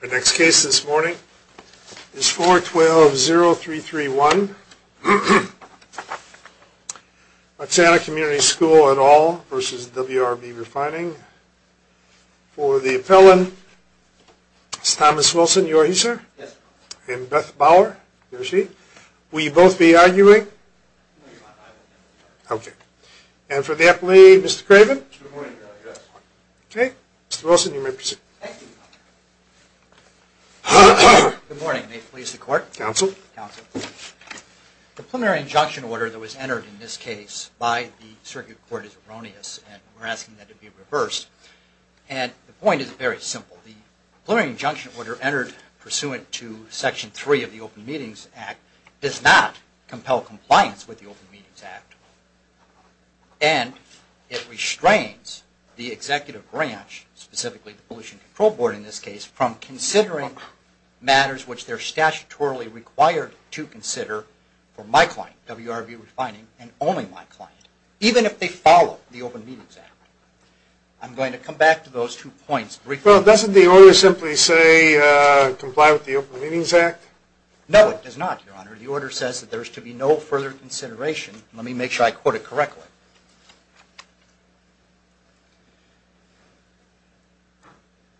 The next case this morning is 412-0331 Watsana Community School et al. v. WRB Refining. For the appellant, it's Thomas Wilson. You are he, sir? Yes, sir. And Beth Bauer. There she is. Will you both be arguing? No, I won't be arguing. Okay. And for the appellee, Mr. Craven? Good morning. Yes. Okay. Mr. Wilson, you may proceed. Thank you. Good morning. May it please the Court? Counsel. Counsel. The preliminary injunction order that was entered in this case by the Circuit Court is erroneous, and we're asking that it be reversed. And the point is very simple. The preliminary injunction order entered pursuant to Section 3 of the Open Meetings Act does not compel compliance with the Open Meetings Act. And it restrains the executive branch, specifically the Pollution Control Board in this case, from considering matters which they're statutorily required to consider for my client, WRB Refining, and only my client, even if they follow the Open Meetings Act. I'm going to come back to those two points briefly. Well, doesn't the order simply say comply with the Open Meetings Act? No, it does not, Your Honor. Your Honor, the order says that there is to be no further consideration. Let me make sure I quote it correctly.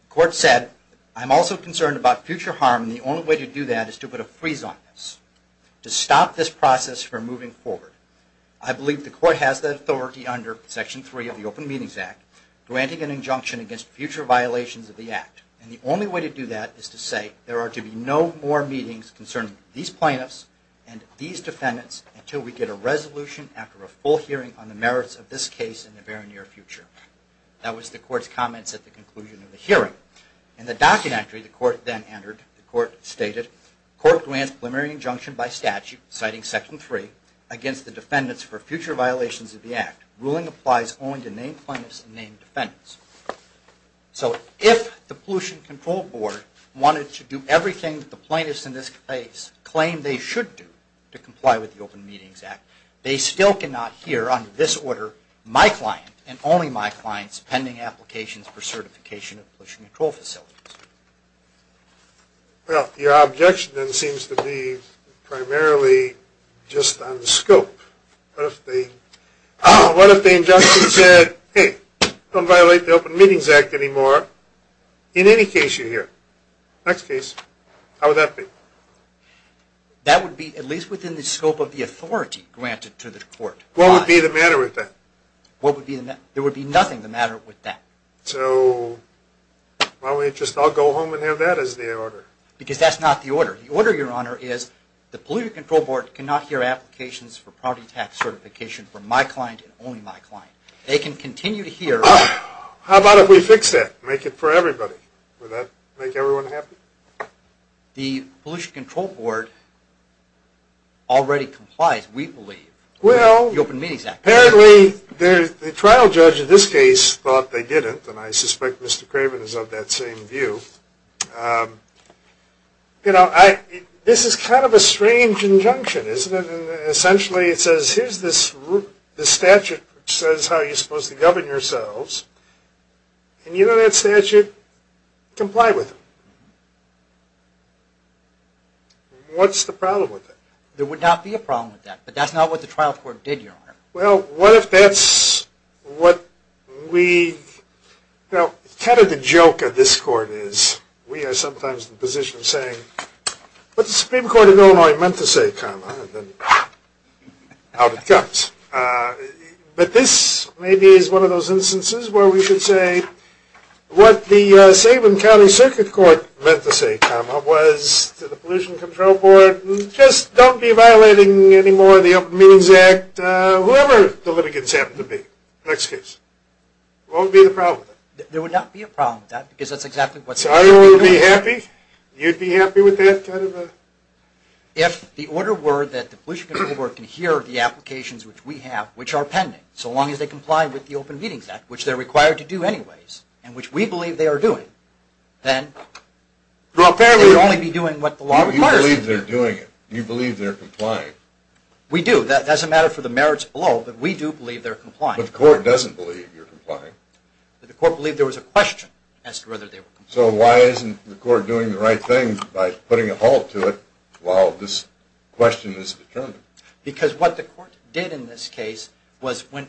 The Court said, I'm also concerned about future harm, and the only way to do that is to put a freeze on this, to stop this process from moving forward. I believe the Court has the authority under Section 3 of the Open Meetings Act granting an injunction against future violations of the Act. And the only way to do that is to say there are to be no more meetings concerning these plaintiffs and these defendants until we get a resolution after a full hearing on the merits of this case in the very near future. That was the Court's comments at the conclusion of the hearing. In the documentary the Court then entered, the Court stated, Court grants preliminary injunction by statute, citing Section 3, against the defendants for future violations of the Act. Ruling applies only to named plaintiffs and named defendants. So if the Pollution Control Board wanted to do everything that the plaintiffs in this case claim they should do to comply with the Open Meetings Act, they still cannot hear under this order my client and only my client's pending applications for certification of pollution control facilities. Well, your objection then seems to be primarily just on scope. What if the injunction said, hey, don't violate the Open Meetings Act anymore in any case you hear? Next case, how would that be? That would be at least within the scope of the authority granted to the Court. What would be the matter with that? There would be nothing the matter with that. So why don't we just all go home and have that as the order? Because that's not the order. The order, Your Honor, is the Pollution Control Board cannot hear applications for property tax certification from my client and only my client. They can continue to hear. How about if we fix that, make it for everybody? Would that make everyone happy? The Pollution Control Board already complies, we believe, with the Open Meetings Act. Well, apparently the trial judge in this case thought they didn't, and I suspect Mr. Craven is of that same view. You know, this is kind of a strange injunction, isn't it? Essentially it says, here's this statute which says how you're supposed to govern yourselves. And you know that statute? Comply with it. What's the problem with that? There would not be a problem with that, but that's not what the trial court did, Your Honor. Well, what if that's what we – kind of the joke of this court is we are sometimes in the position of saying, what the Supreme Court of Illinois meant to say, comma, and then out it comes. But this maybe is one of those instances where we should say, what the Sabin County Circuit Court meant to say, comma, was to the Pollution Control Board, just don't be violating any more of the Open Meetings Act, whoever the litigants happen to be in the next case. That won't be the problem. There would not be a problem with that, because that's exactly what – So I would be happy? You'd be happy with that kind of a – If the order were that the Pollution Control Board can hear the applications which we have, which are pending, so long as they comply with the Open Meetings Act, which they're required to do anyways, and which we believe they are doing, then they'd only be doing what the law requires them to do. But you're not doing it. You believe they're complying. We do. That doesn't matter for the merits below, but we do believe they're complying. But the court doesn't believe you're complying. But the court believed there was a question as to whether they were complying. So why isn't the court doing the right thing by putting a halt to it while this question is determined? Because what the court did in this case was went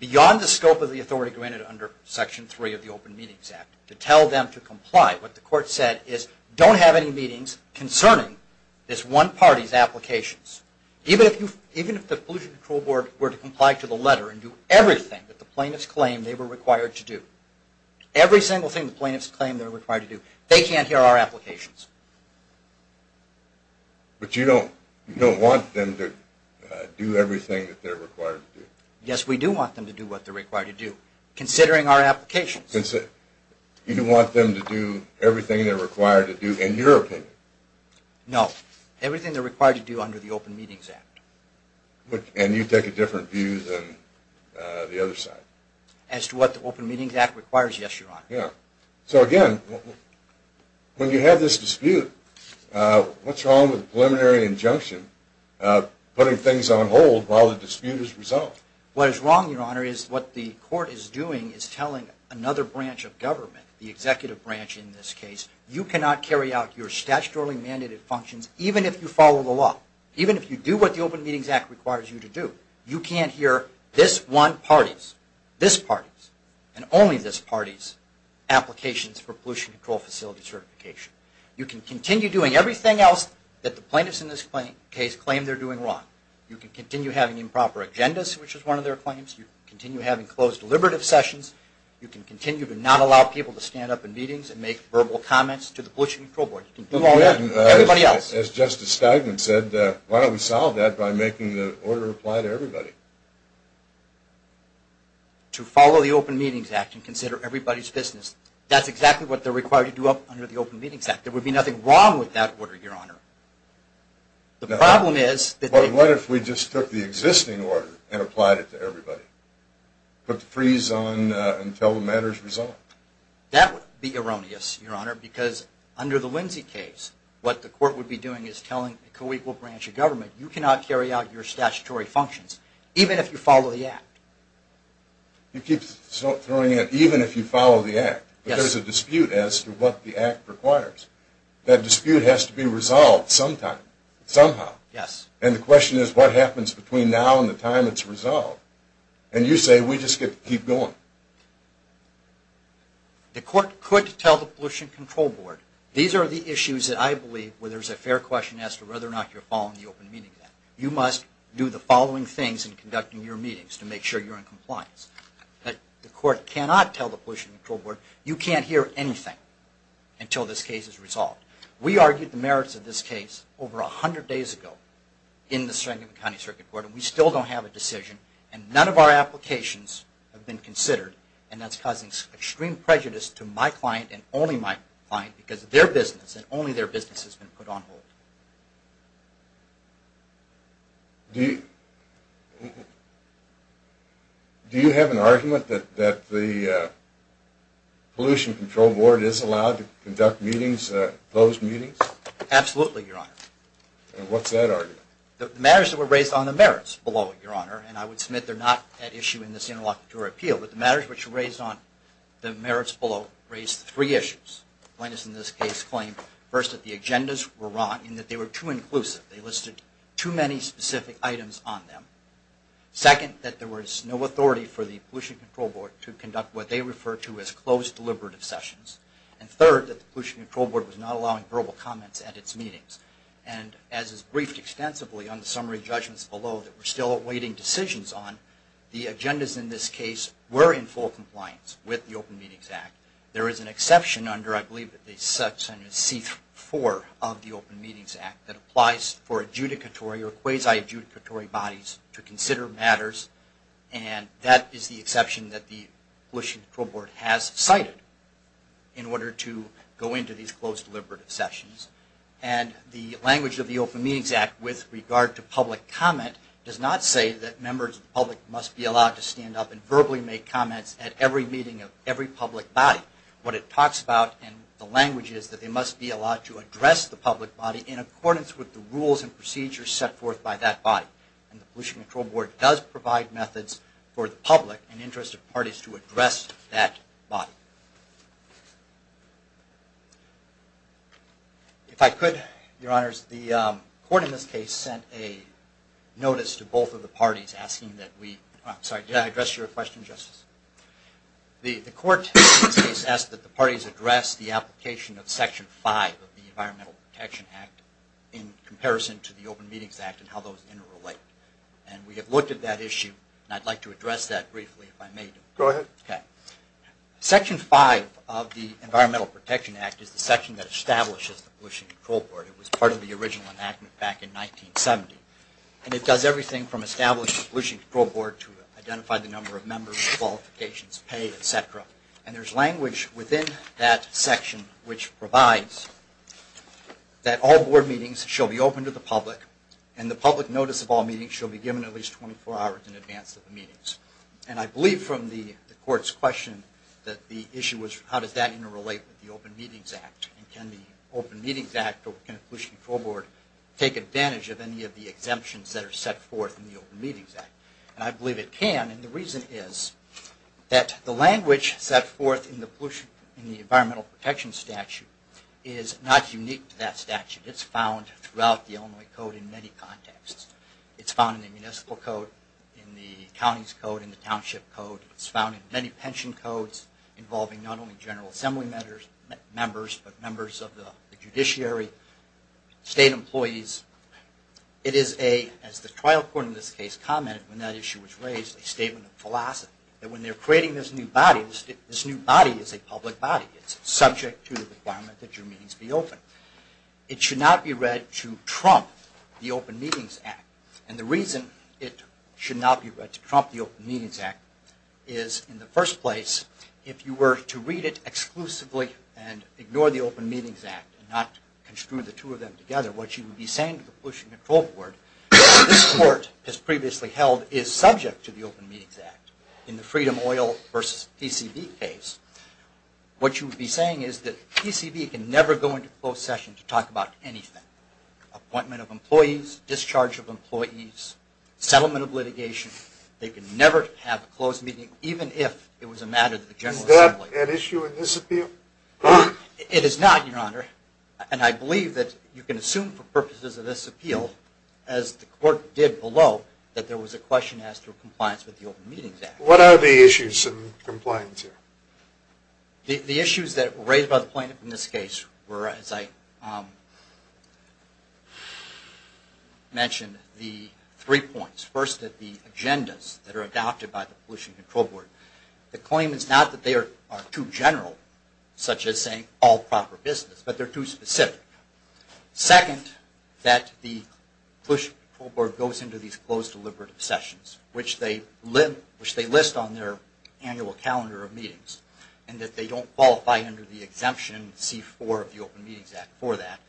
beyond the scope of the authority granted under Section 3 of the Open Meetings Act to tell them to comply. What the court said is, don't have any meetings concerning this one party's applications. Even if the Pollution Control Board were to comply to the letter and do everything that the plaintiffs claimed they were required to do, every single thing the plaintiffs claimed they were required to do, they can't hear our applications. But you don't want them to do everything that they're required to do. Yes, we do want them to do what they're required to do, considering our applications. You don't want them to do everything they're required to do, in your opinion? No. Everything they're required to do under the Open Meetings Act. And you take a different view than the other side? As to what the Open Meetings Act requires, yes, Your Honor. So again, when you have this dispute, what's wrong with a preliminary injunction putting things on hold while the dispute is resolved? What is wrong, Your Honor, is what the court is doing is telling another branch of government, the executive branch in this case, you cannot carry out your statutorily mandated functions, even if you follow the law. Even if you do what the Open Meetings Act requires you to do. You can't hear this one party's, this party's, and only this party's applications for Pollution Control Facility Certification. You can continue doing everything else that the plaintiffs in this case claim they're doing wrong. You can continue having improper agendas, which is one of their claims. You can continue having closed deliberative sessions. You can continue to not allow people to stand up in meetings and make verbal comments to the Pollution Control Board. You can do all that and everybody else. As Justice Steigman said, why don't we solve that by making the order apply to everybody? To follow the Open Meetings Act and consider everybody's business. That's exactly what they're required to do under the Open Meetings Act. There would be nothing wrong with that order, Your Honor. What if we just took the existing order and applied it to everybody? Put the freeze on until the matter is resolved? That would be erroneous, Your Honor, because under the Lindsay case, what the court would be doing is telling the coequal branch of government, you cannot carry out your statutory functions, even if you follow the Act. You keep throwing it, even if you follow the Act. But there's a dispute as to what the Act requires. That dispute has to be resolved sometime, somehow. Yes. And the question is, what happens between now and the time it's resolved? And you say, we just get to keep going. The court could tell the Pollution Control Board, these are the issues that I believe where there's a fair question as to whether or not you're following the Open Meetings Act. You must do the following things in conducting your meetings to make sure you're in compliance. The court cannot tell the Pollution Control Board, you can't hear anything until this case is resolved. We argued the merits of this case over 100 days ago in the Strategic County Circuit Court, and we still don't have a decision. And none of our applications have been considered, and that's causing extreme prejudice to my client and only my client, because their business and only their business has been put on hold. Do you have an argument that the Pollution Control Board is allowed to conduct meetings, closed meetings? Absolutely, Your Honor. And what's that argument? The matters that were raised on the merits below it, Your Honor, and I would submit they're not at issue in this interlocutor appeal, but the matters which were raised on the merits below raised three issues. The plaintiffs in this case claimed, first, that the agendas were wrong and that they were too inclusive. They listed too many specific items on them. Second, that there was no authority for the Pollution Control Board to conduct what they refer to as closed deliberative sessions. And third, that the Pollution Control Board was not allowing verbal comments at its meetings. And as is briefed extensively on the summary judgments below that we're still awaiting decisions on, the agendas in this case were in full compliance with the Open Meetings Act. There is an exception under, I believe, section C4 of the Open Meetings Act that applies for adjudicatory or quasi-adjudicatory bodies to consider matters, and that is the exception that the Pollution Control Board has cited in order to go into these closed deliberative sessions. And the language of the Open Meetings Act with regard to public comment does not say that members of the public must be allowed to stand up and verbally make comments at every meeting of every public body. What it talks about in the language is that they must be allowed to address the public body in accordance with the rules and procedures set forth by that body. And the Pollution Control Board does provide methods for the public and interested parties to address that body. If I could, Your Honors, the court in this case sent a notice to both of the parties asking that we, I'm sorry, did I address your question, Justice? The court in this case asked that the parties address the application of section 5 of the Environmental Protection Act in comparison to the Open Meetings Act and how those interrelate. And we have looked at that issue, and I'd like to address that briefly if I may. Go ahead. Okay. Section 5 of the Environmental Protection Act is the section that establishes the Pollution Control Board. It was part of the original enactment back in 1970. And it does everything from establish the Pollution Control Board to identify the number of members, qualifications, pay, et cetera. And there's language within that section which provides that all board meetings shall be open to the public and the public notice of all meetings shall be given at least 24 hours in advance of the meetings. And I believe from the court's question that the issue was how does that interrelate with the Open Meetings Act, and can the Open Meetings Act or can the Pollution Control Board take advantage of any of the exemptions that are set forth in the Open Meetings Act? And I believe it can, and the reason is that the language set forth in the Environmental Protection Statute is not unique to that statute. It's found throughout the Illinois Code in many contexts. It's found in the Municipal Code, in the County's Code, in the Township Code. It's found in many pension codes involving not only General Assembly members but members of the judiciary, state employees. It is a, as the trial court in this case commented when that issue was raised, a statement of philosophy that when they're creating this new body, this new body is a public body. It's subject to the requirement that your meetings be open. It should not be read to trump the Open Meetings Act, and the reason it should not be read to trump the Open Meetings Act is in the first place, if you were to read it exclusively and ignore the Open Meetings Act and not construe the two of them together, what you would be saying to the Pollution Control Board, this court has previously held is subject to the Open Meetings Act in the Freedom Oil versus PCB case. What you would be saying is that PCB can never go into closed session to talk about anything. Appointment of employees, discharge of employees, settlement of litigation. They can never have a closed meeting even if it was a matter of the General Assembly. Is that an issue in this appeal? It is not, Your Honor, and I believe that you can assume for purposes of this appeal, as the court did below, that there was a question asked for compliance with the Open Meetings Act. What are the issues in compliance here? The issues that were raised by the plaintiff in this case were, as I mentioned, the three points. First, that the agendas that are adopted by the Pollution Control Board, the claim is not that they are too general, such as saying all proper business, but they're too specific. Second, that the Pollution Control Board goes into these closed deliberative sessions, which they list on their annual calendar of meetings, and that they don't qualify under the exemption C-4 of the Open Meetings Act for that.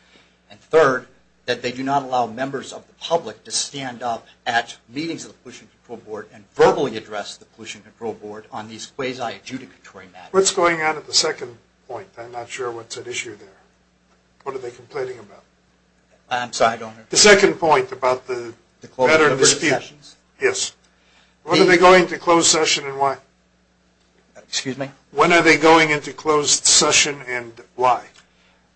And third, that they do not allow members of the public to stand up at meetings of the Pollution Control Board and verbally address the Pollution Control Board on these quasi-adjudicatory matters. What's going on at the second point? I'm not sure what's at issue there. What are they complaining about? I'm sorry, Your Honor. The second point about the matter of dispute. The closed deliberative sessions? Yes. When are they going into closed session and why? Excuse me? When are they going into closed session and why?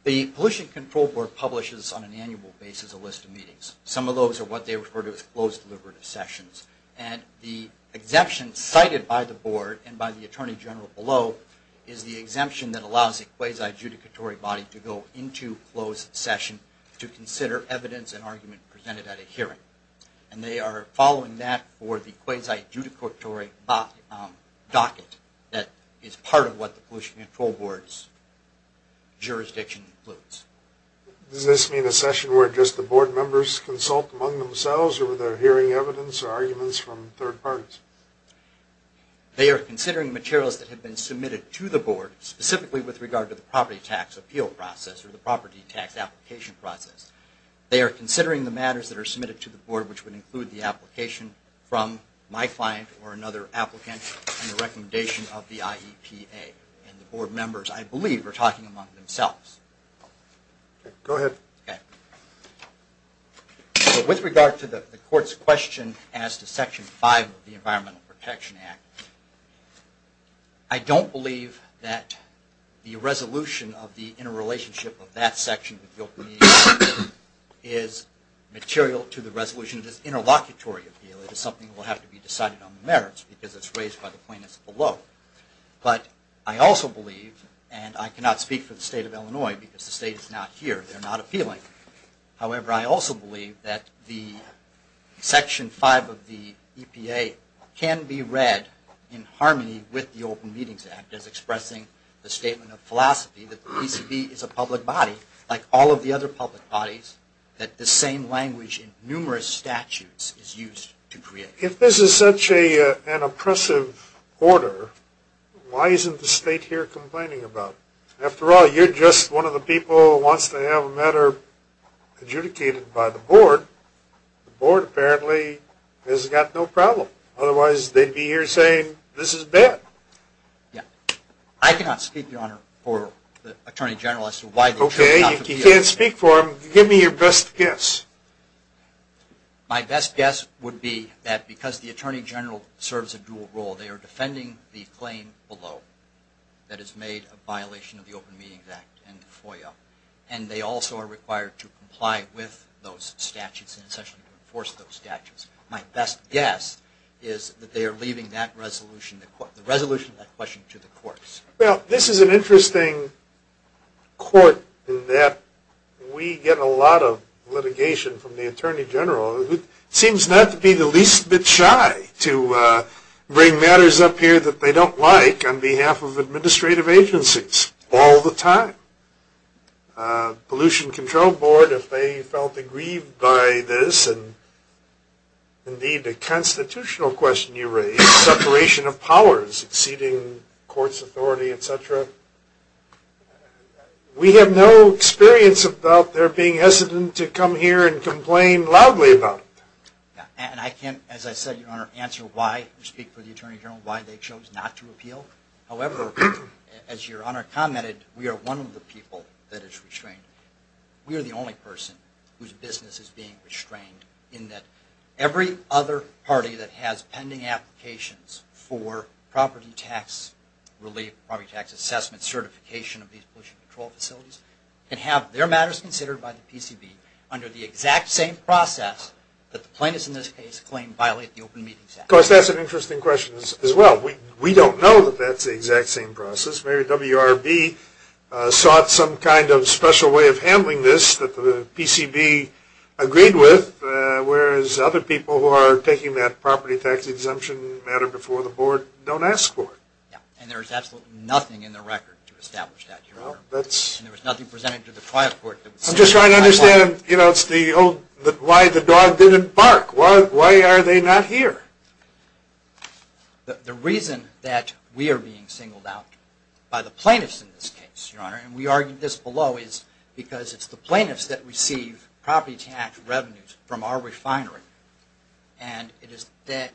The Pollution Control Board publishes on an annual basis a list of meetings. Some of those are what they refer to as closed deliberative sessions. And the exemption cited by the Board and by the Attorney General below is the exemption that allows a quasi-adjudicatory body to go into closed session to consider evidence and argument presented at a hearing. And they are following that for the quasi-adjudicatory docket that is part of what the Pollution Control Board's jurisdiction includes. Does this mean a session where just the Board members consult among themselves or are there hearing evidence or arguments from third parties? They are considering materials that have been submitted to the Board, specifically with regard to the property tax appeal process or the property tax application process. They are considering the matters that are submitted to the Board, which would include the application from my client or another applicant and the recommendation of the IEPA. And the Board members, I believe, are talking among themselves. Go ahead. With regard to the Court's question as to Section 5 of the Environmental Protection Act, I don't believe that the resolution of the interrelationship of that section with the Open Media Act is material to the resolution of this interlocutory appeal. It is something that will have to be decided on the merits because it is raised by the plaintiffs below. But I also believe, and I cannot speak for the State of Illinois because the State is not here, they are not appealing. However, I also believe that Section 5 of the EPA can be read in harmony with the Open Meetings Act as expressing the statement of philosophy that the PCB is a public body, like all of the other public bodies, that the same language in numerous statutes is used to create it. If this is such an oppressive order, why isn't the State here complaining about it? After all, you're just one of the people who wants to have a matter adjudicated by the Board. The Board apparently has got no problem. Otherwise, they'd be here saying, this is bad. I cannot speak, Your Honor, for the Attorney General as to why they should not appeal. Okay, if you can't speak for him, give me your best guess. My best guess would be that because the Attorney General serves a dual role, they are defending the claim below that is made a violation of the Open Meetings Act and the FOIA, and they also are required to comply with those statutes and essentially enforce those statutes. My best guess is that they are leaving the resolution of that question to the courts. Well, this is an interesting court in that we get a lot of litigation from the Attorney General who seems not to be the least bit shy to bring matters up here that they don't like on behalf of administrative agencies all the time. Pollution Control Board, if they felt aggrieved by this, and indeed the constitutional question you raised, separation of powers, exceeding court's authority, et cetera, we have no experience about their being hesitant to come here and complain loudly about it. And I can't, as I said, Your Honor, answer why we speak for the Attorney General, why they chose not to appeal. However, as Your Honor commented, we are one of the people that is restrained. We are the only person whose business is being restrained in that every other party that has pending applications for property tax relief, property tax assessment certification of these pollution control facilities can have their matters considered by the PCB under the exact same process that the plaintiffs in this case claim violate the Open Meetings Act. Of course, that's an interesting question as well. We don't know that that's the exact same process. Maybe WRB sought some kind of special way of handling this that the PCB agreed with whereas other people who are taking that property tax exemption matter before the board don't ask for it. Yeah, and there's absolutely nothing in the record to establish that, Your Honor. And there was nothing presented to the trial court that would say something like that. I'm just trying to understand, you know, why the dog didn't bark. Why are they not here? The reason that we are being singled out by the plaintiffs in this case, Your Honor, and we argue this below is because it's the plaintiffs that receive property tax revenues from our refinery and it is the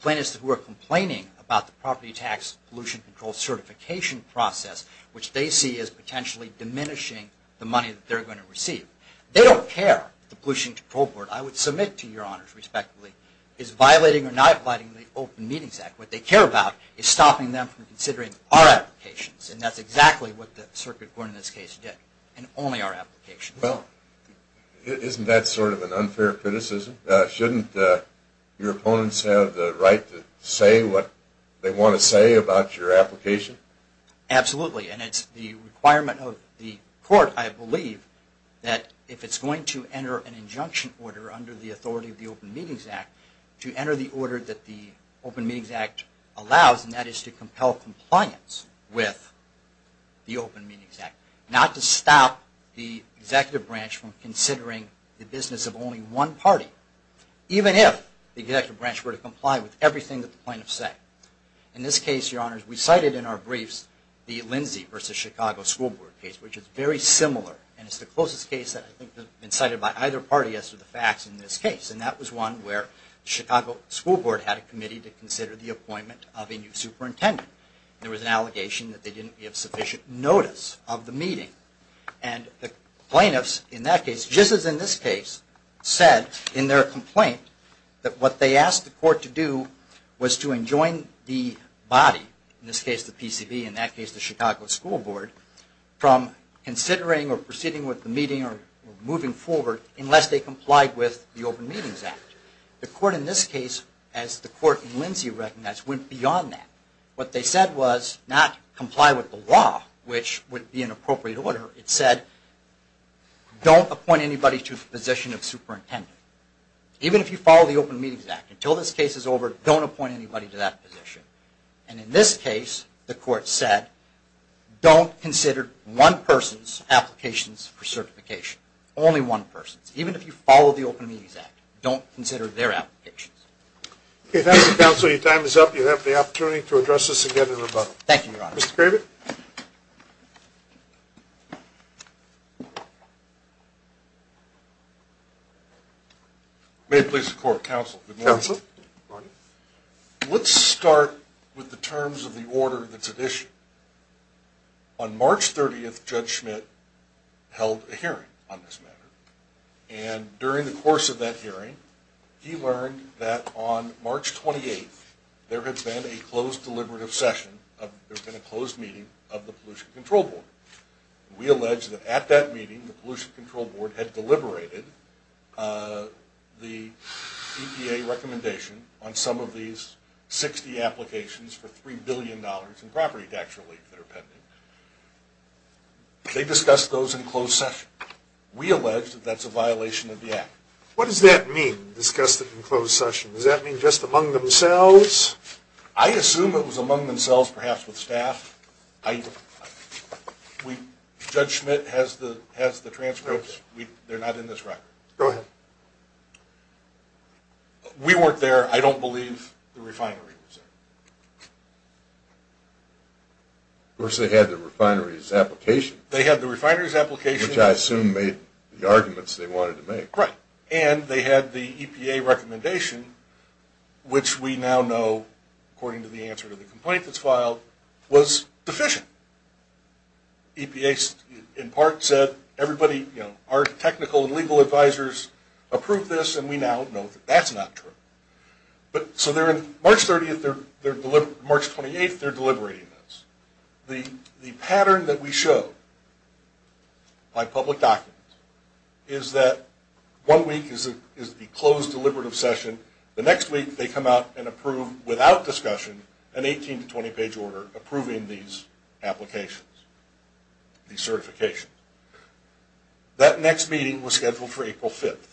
plaintiffs who are complaining about the property tax pollution control certification process which they see as potentially diminishing the money that they're going to receive. They don't care that the Pollution Control Board, I would submit to Your Honors respectfully, is violating or not violating the Open Meetings Act. What they care about is stopping them from considering our applications and that's exactly what the circuit court in this case did and only our applications. Well, isn't that sort of an unfair criticism? Shouldn't your opponents have the right to say what they want to say about your application? Absolutely, and it's the requirement of the court, I believe, that if it's going to enter an injunction order under the authority of the Open Meetings Act to enter the order that the Open Meetings Act allows and that is to compel compliance with the Open Meetings Act. Not to stop the executive branch from considering the business of only one party even if the executive branch were to comply with everything that the plaintiffs say. In this case, Your Honors, we cited in our briefs the Lindsay v. Chicago School Board case which is very similar and it's the closest case that I think has been cited by either party as to the facts in this case and that was one where the Chicago School Board had a committee to consider the appointment of a new superintendent. There was an allegation that they didn't give sufficient notice of the meeting and the plaintiffs in that case, just as in this case, said in their complaint that what they asked the court to do was to enjoin the body, in this case the PCV, in that case the Chicago School Board, from considering or proceeding with the meeting or moving forward unless they complied with the Open Meetings Act. The court in this case, as the court in Lindsay recognized, went beyond that. What they said was not comply with the law, which would be in appropriate order. It said don't appoint anybody to the position of superintendent. Even if you follow the Open Meetings Act, until this case is over, don't appoint anybody to that position. And in this case, the court said don't consider one person's applications for certification. Only one person's. Even if you follow the Open Meetings Act, don't consider their applications. Okay, thank you, counsel. Your time is up. You have the opportunity to address this again in rebuttal. Thank you, your honor. Mr. Craven? May it please the court. Counsel. Counsel. Your honor. Let's start with the terms of the order that's at issue. On March 30th, Judge Schmidt held a hearing on this matter. And during the course of that hearing, he learned that on March 28th, there had been a closed deliberative session, there had been a closed meeting of the Pollution Control Board. We allege that at that meeting, the Pollution Control Board had deliberated the EPA recommendation on some of these 60 applications for $3 billion in property tax relief that are pending. They discussed those in closed session. We allege that that's a violation of the act. What does that mean, discuss it in closed session? Does that mean just among themselves? I assume it was among themselves, perhaps with staff. Judge Schmidt has the transcripts. They're not in this record. Go ahead. We weren't there. I don't believe the refinery was there. Of course, they had the refinery's application. They had the refinery's application. Which I assume made the arguments they wanted to make. Right. And they had the EPA recommendation, which we now know, according to the answer to the complaint that's filed, was deficient. EPA, in part, said everybody, you know, our technical and legal advisors approved this, and we now know that that's not true. But, so they're in March 30th, they're deliberating, March 28th, they're deliberating this. The pattern that we show by public documents is that one week is the closed deliberative session. The next week, they come out and approve, without discussion, an 18- to 20-page order approving these applications, these certifications. That next meeting was scheduled for April 5th,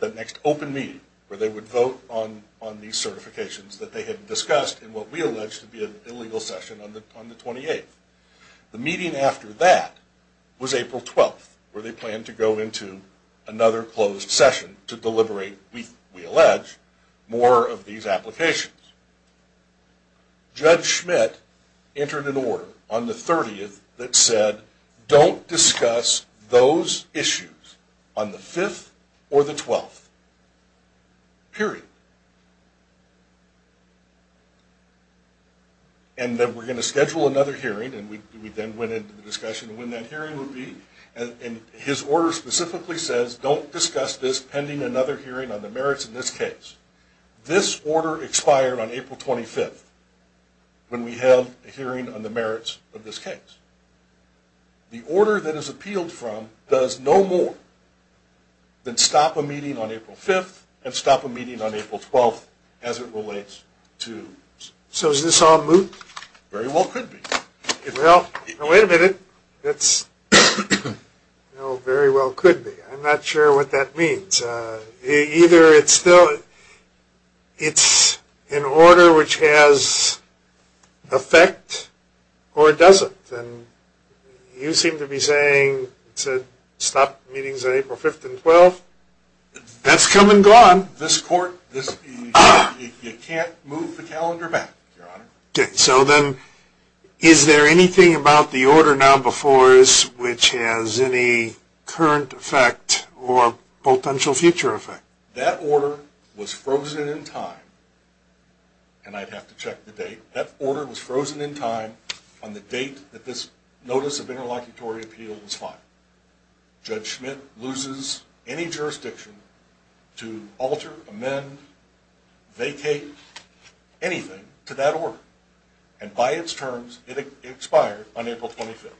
that next open meeting, where they would vote on these certifications that they had discussed in what we allege to be an illegal session on the 28th. The meeting after that was April 12th, where they planned to go into another closed session to deliberate, we allege, more of these applications. Judge Schmidt entered an order on the 30th that said, don't discuss those issues on the 5th or the 12th. Period. And then we're going to schedule another hearing, and we then went into the discussion of when that hearing would be. And his order specifically says, don't discuss this pending another hearing on the merits of this case. This order expired on April 25th, when we held a hearing on the merits of this case. The order that is appealed from does no more than stop a meeting on April 5th and stop a meeting on April 12th, as it relates to... So is this on loop? Very well could be. Well, wait a minute. No, very well could be. I'm not sure what that means. Either it's still, it's an order which has effect, or it doesn't. You seem to be saying to stop meetings on April 5th and 12th. That's come and gone. This court, you can't move the calendar back, Your Honor. So then, is there anything about the order now before us which has any current effect or potential future effect? That order was frozen in time. And I'd have to check the date. That order was frozen in time on the date that this notice of interlocutory appeal was filed. Judge Schmidt loses any jurisdiction to alter, amend, vacate anything to that order. And by its terms, it expired on April 25th.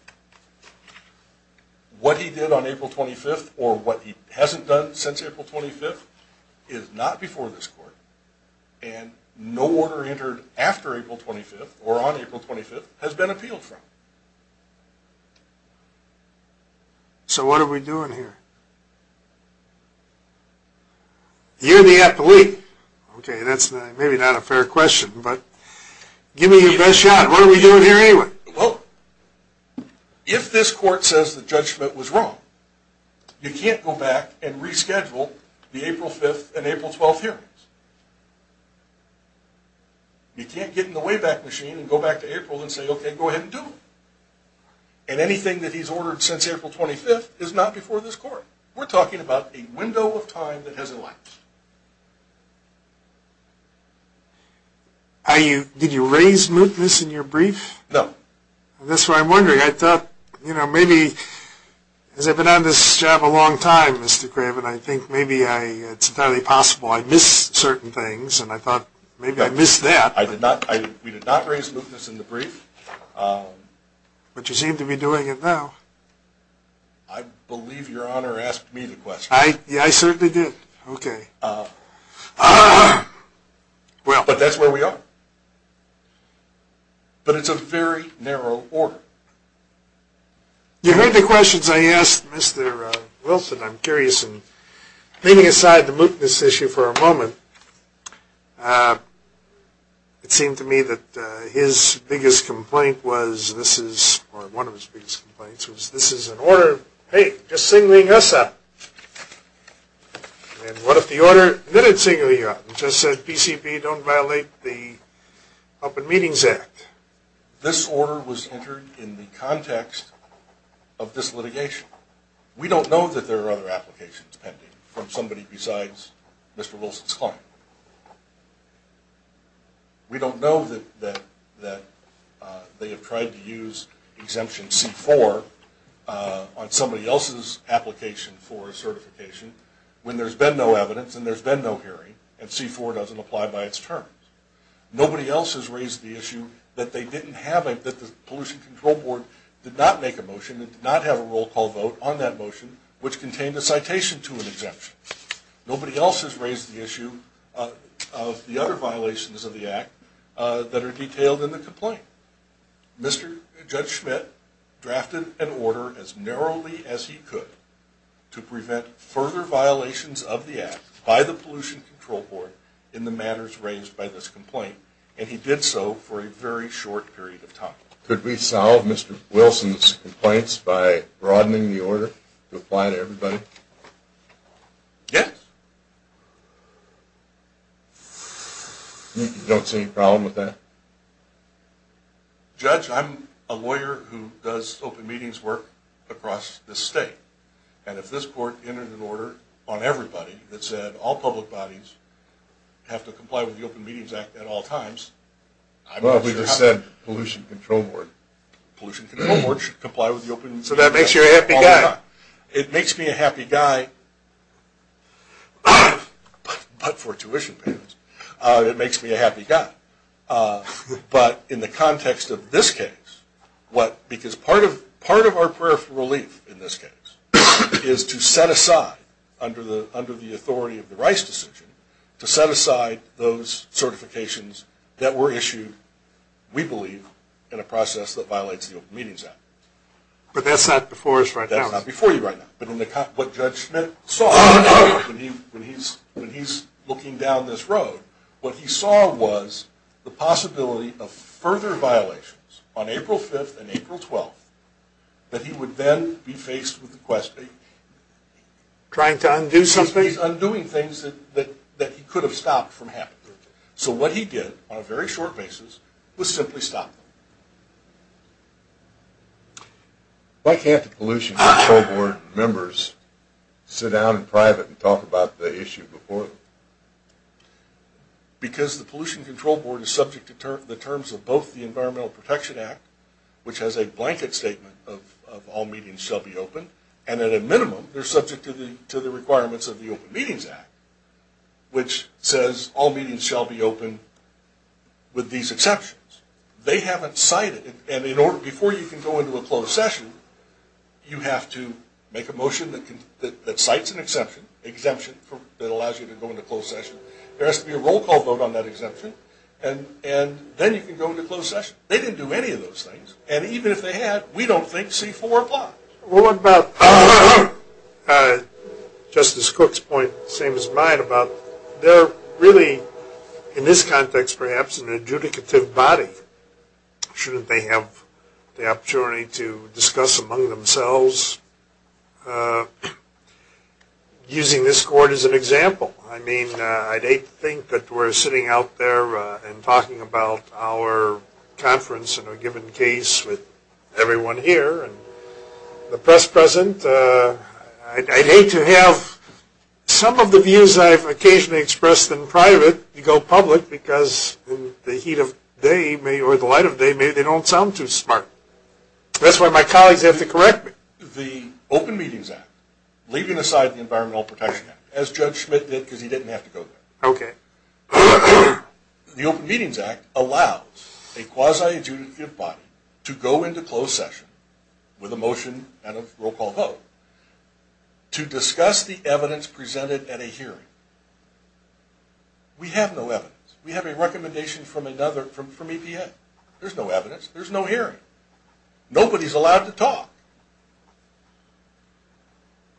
What he did on April 25th, or what he hasn't done since April 25th, is not before this court. And no order entered after April 25th, or on April 25th, has been appealed from. So what are we doing here? You're the appellee. Okay, that's maybe not a fair question, but give me your best shot. What are we doing here anyway? Well, if this court says that Judge Schmidt was wrong, you can't go back and reschedule the April 5th and April 12th hearings. You can't get in the Wayback Machine and go back to April and say, okay, go ahead and do it. And anything that he's ordered since April 25th is not before this court. We're talking about a window of time that hasn't left. Did you raise mootness in your brief? No. That's what I'm wondering. I thought, you know, maybe, because I've been on this job a long time, Mr. Craven, I think maybe it's entirely possible I missed certain things. And I thought maybe I missed that. I did not. We did not raise mootness in the brief. But you seem to be doing it now. I believe Your Honor asked me the question. I certainly did. Okay. But that's where we are. But it's a very narrow order. You heard the questions I asked Mr. Wilson. I'm curious, and leaving aside the mootness issue for a moment, it seemed to me that his biggest complaint was, or one of his biggest complaints was, this is an order, hey, just singling us out. And what if the order didn't single you out? You just said PCP don't violate the Open Meetings Act. This order was entered in the context of this litigation. We don't know that there are other applications pending from somebody besides Mr. Wilson's client. We don't know that they have tried to use Exemption C-4 on somebody else's application for a certification when there's been no evidence and there's been no hearing, and C-4 doesn't apply by its terms. Nobody else has raised the issue that the Pollution Control Board did not make a motion, did not have a roll call vote on that motion, which contained a citation to an exemption. Nobody else has raised the issue of the other violations of the Act that are detailed in the complaint. Mr. Judge Schmidt drafted an order as narrowly as he could to prevent further violations of the Act by the Pollution Control Board in the matters raised by this complaint, and he did so for a very short period of time. Could we solve Mr. Wilson's complaints by broadening the order to apply to everybody? Yes. You don't see any problem with that? Judge, I'm a lawyer who does open meetings work across the state, and if this court entered an order on everybody that said all public bodies have to comply with the Open Meetings Act at all times, I'm not sure how the Pollution Control Board should comply with the Open Meetings Act. So that makes you a happy guy. It makes me a happy guy, but for tuition payments. It makes me a happy guy. But in the context of this case, because part of our prayer for relief in this case is to set aside, under the authority of the Rice decision, to set aside those certifications that were issued, we believe, in a process that violates the Open Meetings Act. But that's not before us right now. That's not before you right now. But what Judge Schmitt saw when he's looking down this road, what he saw was the possibility of further violations on April 5th and April 12th that he would then be faced with the question of undoing things that he could have stopped from happening. So what he did, on a very short basis, was simply stop them. Why can't the Pollution Control Board members sit down in private and talk about the issue before them? Because the Pollution Control Board is subject to the terms of both the Environmental Protection Act, which has a blanket statement of all meetings shall be open, and at a minimum, they're subject to the requirements of the Open Meetings Act, which says all meetings shall be open with these exceptions. They haven't cited it. And before you can go into a closed session, you have to make a motion that cites an exemption that allows you to go into closed session. There has to be a roll call vote on that exemption. And then you can go into closed session. They didn't do any of those things. And even if they had, we don't think C4 applies. What about Justice Cook's point, same as mine, about they're really, in this context perhaps, an adjudicative body. Shouldn't they have the opportunity to discuss among themselves using this court as an example? I mean, I'd hate to think that we're sitting out there and talking about our conference in a given case with everyone here and the press present. I'd hate to have some of the views I've occasionally expressed in private go public because in the heat of day, or the light of day, maybe they don't sound too smart. That's why my colleagues have to correct me. The Open Meetings Act, leaving aside the Environmental Protection Act, as Judge Schmidt did because he didn't have to go there. Okay. The Open Meetings Act allows a quasi-adjudicative body to go into closed session with a motion and a roll call vote to discuss the evidence presented at a hearing. We have no evidence. We have a recommendation from EPA. There's no evidence. There's no hearing. Nobody's allowed to talk.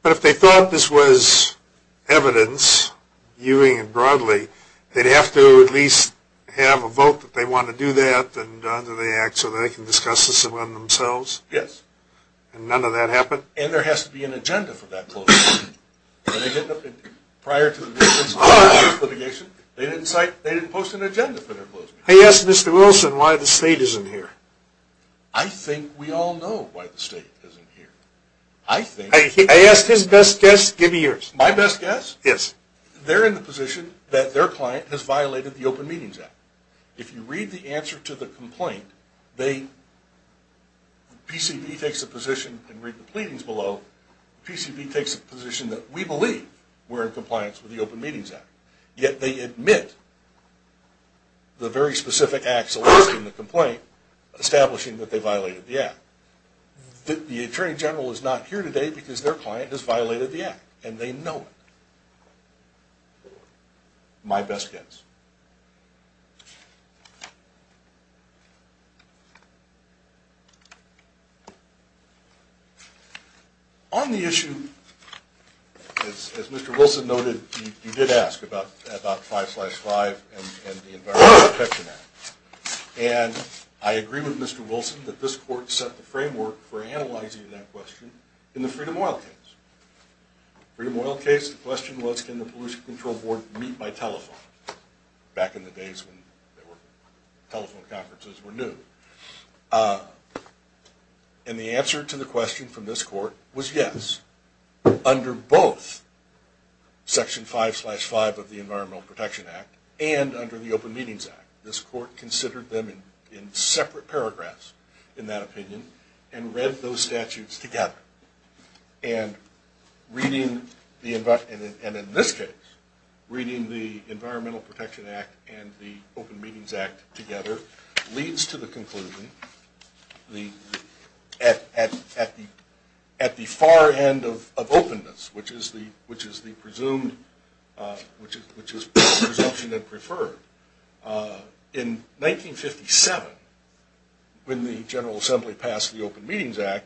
But if they thought this was evidence, viewing it broadly, they'd have to at least have a vote that they want to do that under the Act so that they can discuss this among themselves. Yes. And none of that happened? And there has to be an agenda for that closed session. Prior to this litigation, they didn't post an agenda for their closed session. I asked Mr. Wilson why the state isn't here. I think we all know why the state isn't here. I asked his best guess. Give me yours. My best guess? Yes. They're in the position that their client has violated the Open Meetings Act. If you read the answer to the complaint, PCB takes a position and read the pleadings below, PCB takes a position that we believe we're in compliance with the Open Meetings Act. Yet they admit the very specific acts elicited in the complaint establishing that they violated the Act. The Attorney General is not here today because their client has violated the Act, and they know it. My best guess. On the issue, as Mr. Wilson noted, you did ask about 5-5 and the Environmental Protection Act. And I agree with Mr. Wilson that this Court set the framework for analyzing that question in the Freedom of Oil case. Freedom of Oil case, the question was, can the Pollution Control Board meet by telephone? Back in the days when telephone conferences were new. And the answer to the question from this Court was yes. Under both Section 5-5 of the Environmental Protection Act and under the Open Meetings Act, this Court considered them in separate paragraphs, in that opinion, and read those statutes together. And in this case, reading the Environmental Protection Act and the Open Meetings Act together, leads to the conclusion at the far end of openness, which is presumption and preferred. In 1957, when the General Assembly passed the Open Meetings Act,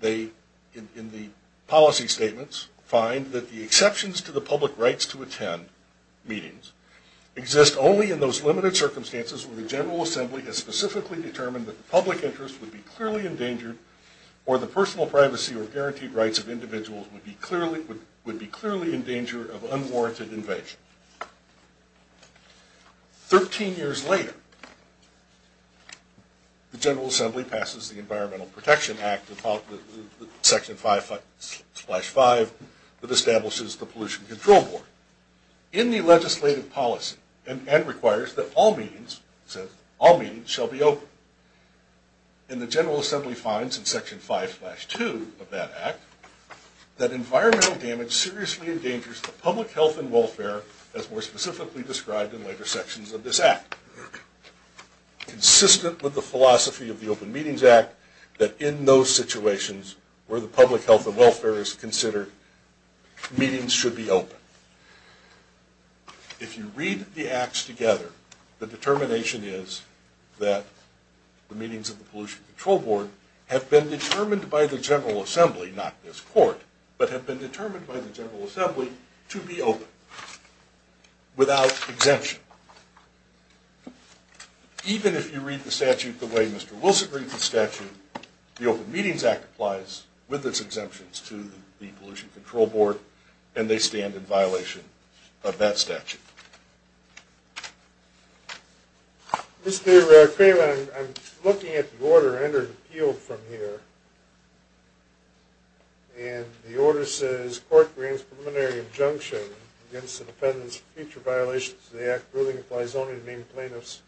they, in the policy statements, find that the exceptions to the public rights to attend meetings exist only in those limited circumstances where the General Assembly has specifically determined that the public interest would be clearly endangered or the personal privacy or guaranteed rights of individuals would be clearly in danger of unwarranted invasion. Thirteen years later, the General Assembly passes the Environmental Protection Act, Section 5-5, that establishes the Pollution Control Board. In the legislative policy, and requires that all meetings shall be open, and the General Assembly finds in Section 5-2 of that Act that environmental damage seriously endangers the public health and welfare as more specifically described in later sections of this Act. Consistent with the philosophy of the Open Meetings Act, that in those situations where the public health and welfare is considered, meetings should be open. If you read the Acts together, the determination is that the meetings of the Pollution Control Board have been determined by the General Assembly, not this Court, but have been determined by the General Assembly to be open, without exemption. Even if you read the statute the way Mr. Wilson reads the statute, the Open Meetings Act applies, with its exemptions, to the Pollution Control Board, and they stand in violation of that statute. Mr. Craven, I'm looking at the order under appeal from here, and the order says, this Court brings preliminary injunction against the defendants of future violations of the Act ruling applies only to named plaintiffs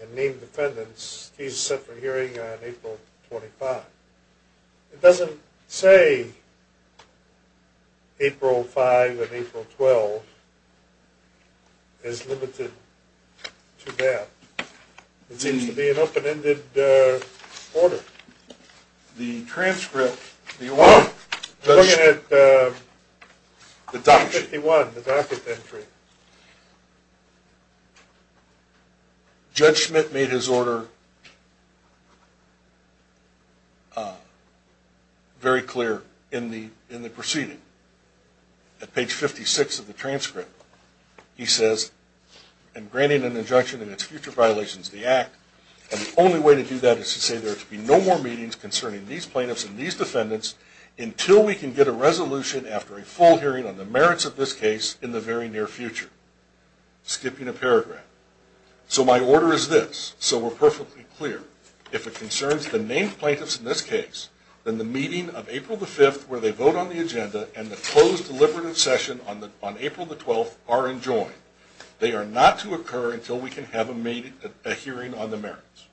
and named defendants. The case is set for hearing on April 25. It doesn't say April 5 and April 12 is limited to that. It seems to be an open-ended order. The transcript, the order, I'm looking at the 51, the docket entry. Judge Schmidt made his order very clear in the proceeding. At page 56 of the transcript, he says, in granting an injunction against future violations of the Act, and the only way to do that is to say there are to be no more meetings concerning these plaintiffs and these defendants until we can get a resolution after a full hearing on the merits of this case in the very near future. Skipping a paragraph. So my order is this, so we're perfectly clear. If it concerns the named plaintiffs in this case, then the meeting of April 5 where they vote on the agenda and the closed deliberative session on April 12 are enjoined. They are not to occur until we can have a hearing on the merits.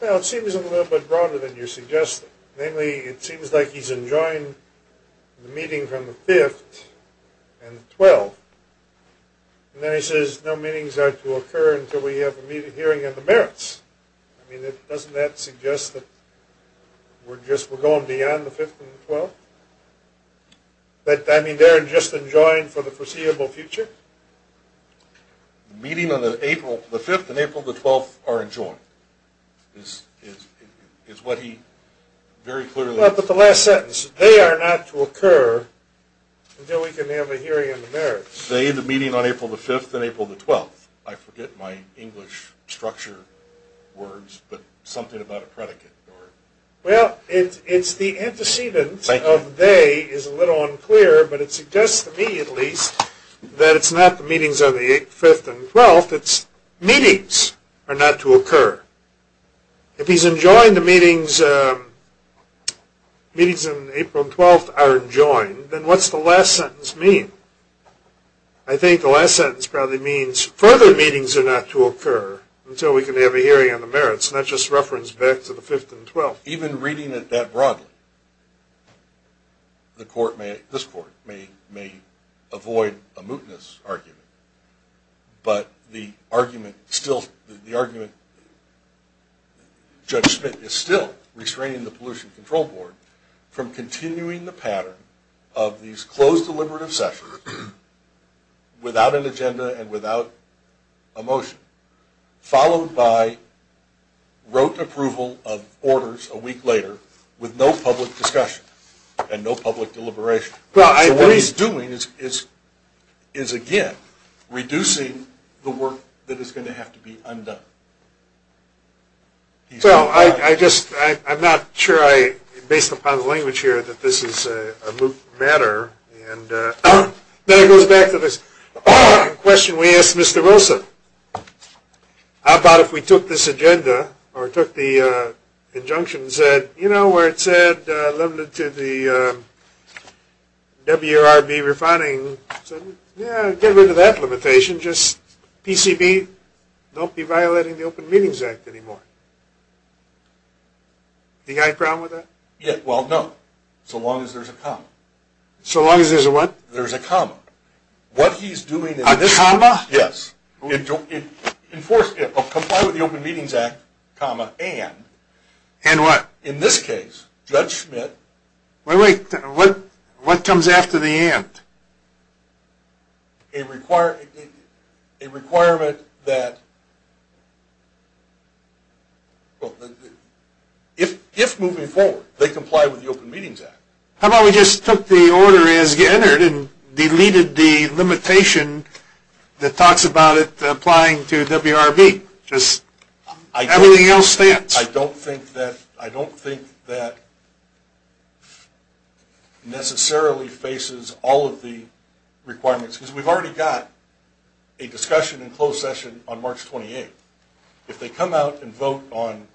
Well, it seems a little bit broader than you're suggesting. Namely, it seems like he's enjoined the meeting from the 5th and the 12th. And then he says no meetings are to occur until we have a hearing on the merits. I mean, doesn't that suggest that we're going beyond the 5th and the 12th? But, I mean, they're just enjoined for the foreseeable future? The meeting on the 5th and April the 12th are enjoined is what he very clearly says. But the last sentence, they are not to occur until we can have a hearing on the merits. They, the meeting on April the 5th and April the 12th. I forget my English structure words, but something about a predicate. Well, it's the antecedent of they is a little unclear, but it suggests to me at least that it's not the meetings on the 5th and 12th, it's meetings are not to occur. If he's enjoined the meetings, meetings on April 12th are enjoined, then what's the last sentence mean? I think the last sentence probably means further meetings are not to occur until we can have a hearing on the merits, and that's just reference back to the 5th and the 12th. Even reading it that broadly, the court may, this court may avoid a mootness argument, but the argument still, the argument Judge Smith is still restraining the Pollution Control Board from continuing the pattern of these closed deliberative sessions without an agenda and without a motion, followed by rote approval of orders a week later with no public discussion and no public deliberation. So what he's doing is, again, reducing the work that is going to have to be undone. So I just, I'm not sure I, based upon the language here, that this is a moot matter, and then it goes back to this question we asked Mr. Wilson. How about if we took this agenda or took the injunction and said, you know, where it said limited to the WRB refining, said, yeah, get rid of that limitation, just PCB, don't be violating the Open Meetings Act anymore. Do you have a problem with that? Well, no, so long as there's a comma. So long as there's a what? There's a comma. What he's doing in this case. A comma? Yes. Enforce, comply with the Open Meetings Act, comma, and. And what? In this case, Judge Smith. Wait, wait, what comes after the and? A requirement that, well, if moving forward, they comply with the Open Meetings Act. How about we just took the order as entered and deleted the limitation that talks about it applying to WRB? Just everything else stands. I don't think that necessarily faces all of the requirements, because we've already got a discussion in closed session on March 28th. If they come out and vote on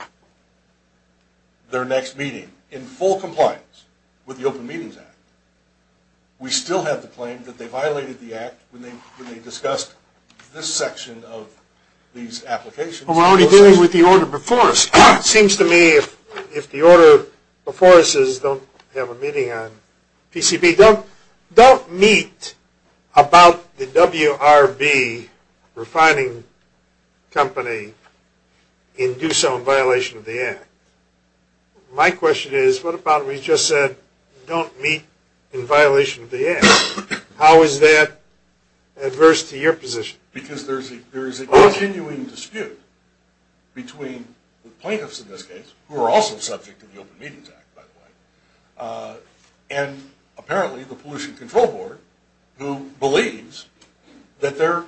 their next meeting in full compliance with the Open Meetings Act, we still have the claim that they violated the act when they discussed this section of these applications. Well, we're already dealing with the order before us. It seems to me if the order before us is don't have a meeting on PCB, don't meet about the WRB refining company in do some violation of the act. My question is what about we just said don't meet in violation of the act? How is that adverse to your position? Because there's a continuing dispute between the plaintiffs in this case, who are also subject to the Open Meetings Act, by the way, and apparently the Pollution Control Board, who believes that they're,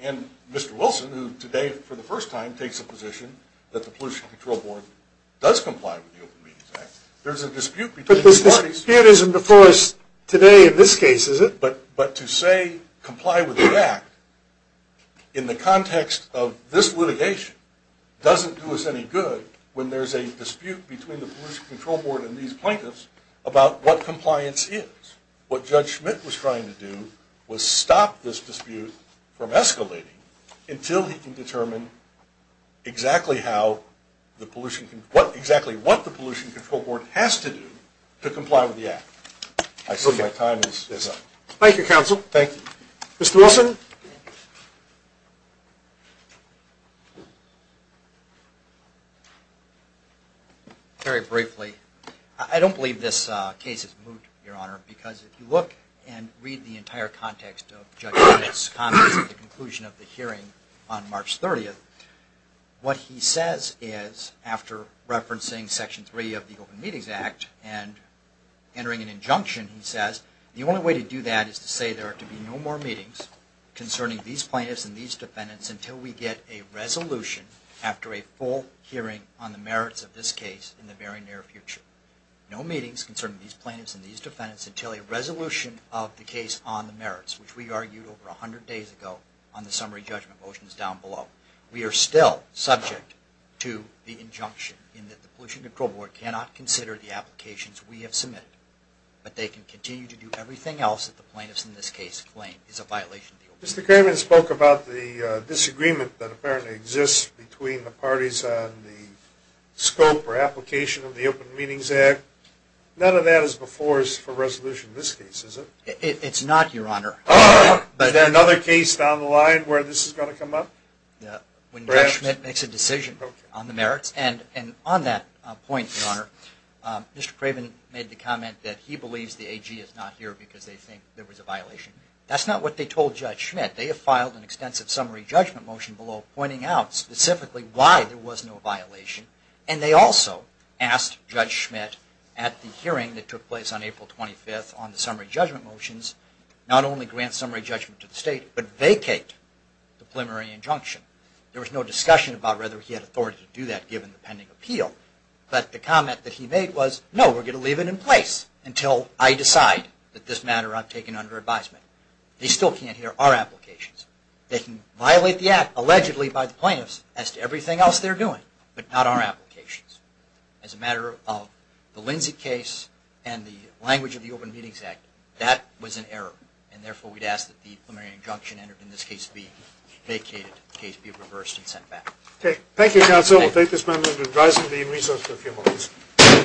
and Mr. Wilson, who today for the first time takes a position that the Pollution Control Board does comply with the Open Meetings Act. There's a dispute between the parties. But this dispute isn't before us today in this case, is it? But to say comply with the act in the context of this litigation doesn't do us any good when there's a dispute between the Pollution Control Board and these plaintiffs about what compliance is. What Judge Schmidt was trying to do was stop this dispute from escalating until he can determine exactly what the Pollution Control Board has to do to comply with the act. I assume my time is up. Thank you, Counsel. Thank you. Mr. Wilson? Very briefly, I don't believe this case is moot, Your Honor, because if you look and read the entire context of Judge Schmidt's comments at the conclusion of the hearing on March 30th, what he says is, after referencing Section 3 of the Open Meetings Act and entering an injunction, he says the only way to do that is to say there are to be no more meetings concerning these plaintiffs and these defendants until we get a resolution after a full hearing on the merits of this case in the very near future. No meetings concerning these plaintiffs and these defendants until a resolution of the case on the merits, which we argued over 100 days ago on the summary judgment motions down below. We are still subject to the injunction in that the Pollution Control Board cannot consider the applications we have submitted, but they can continue to do everything else that the plaintiffs in this case claim is a violation of the Open Meetings Act. Mr. Kerman spoke about the disagreement that apparently exists between the parties on the scope or application of the Open Meetings Act. None of that is before us for resolution in this case, is it? It's not, Your Honor. Is there another case down the line where this is going to come up? When Judge Schmitt makes a decision on the merits, and on that point, Your Honor, Mr. Craven made the comment that he believes the AG is not here because they think there was a violation. That's not what they told Judge Schmitt. They have filed an extensive summary judgment motion below pointing out specifically why there was no violation, and they also asked Judge Schmitt at the hearing that took place on April 25th on the summary judgment motions not only grant summary judgment to the State, but vacate the preliminary injunction. There was no discussion about whether he had authority to do that given the pending appeal, but the comment that he made was, no, we're going to leave it in place until I decide that this matter I've taken under advisement. They still can't hear our applications. They can violate the Act allegedly by the plaintiffs as to everything else they're doing, but not our applications. As a matter of the Lindsay case and the language of the Open Meetings Act, that was an error, and therefore we'd ask that the preliminary injunction entered in this case be vacated, the case be reversed and sent back. Okay. Thank you, counsel. Thank you. We'll take this moment in revising the resource for a few moments.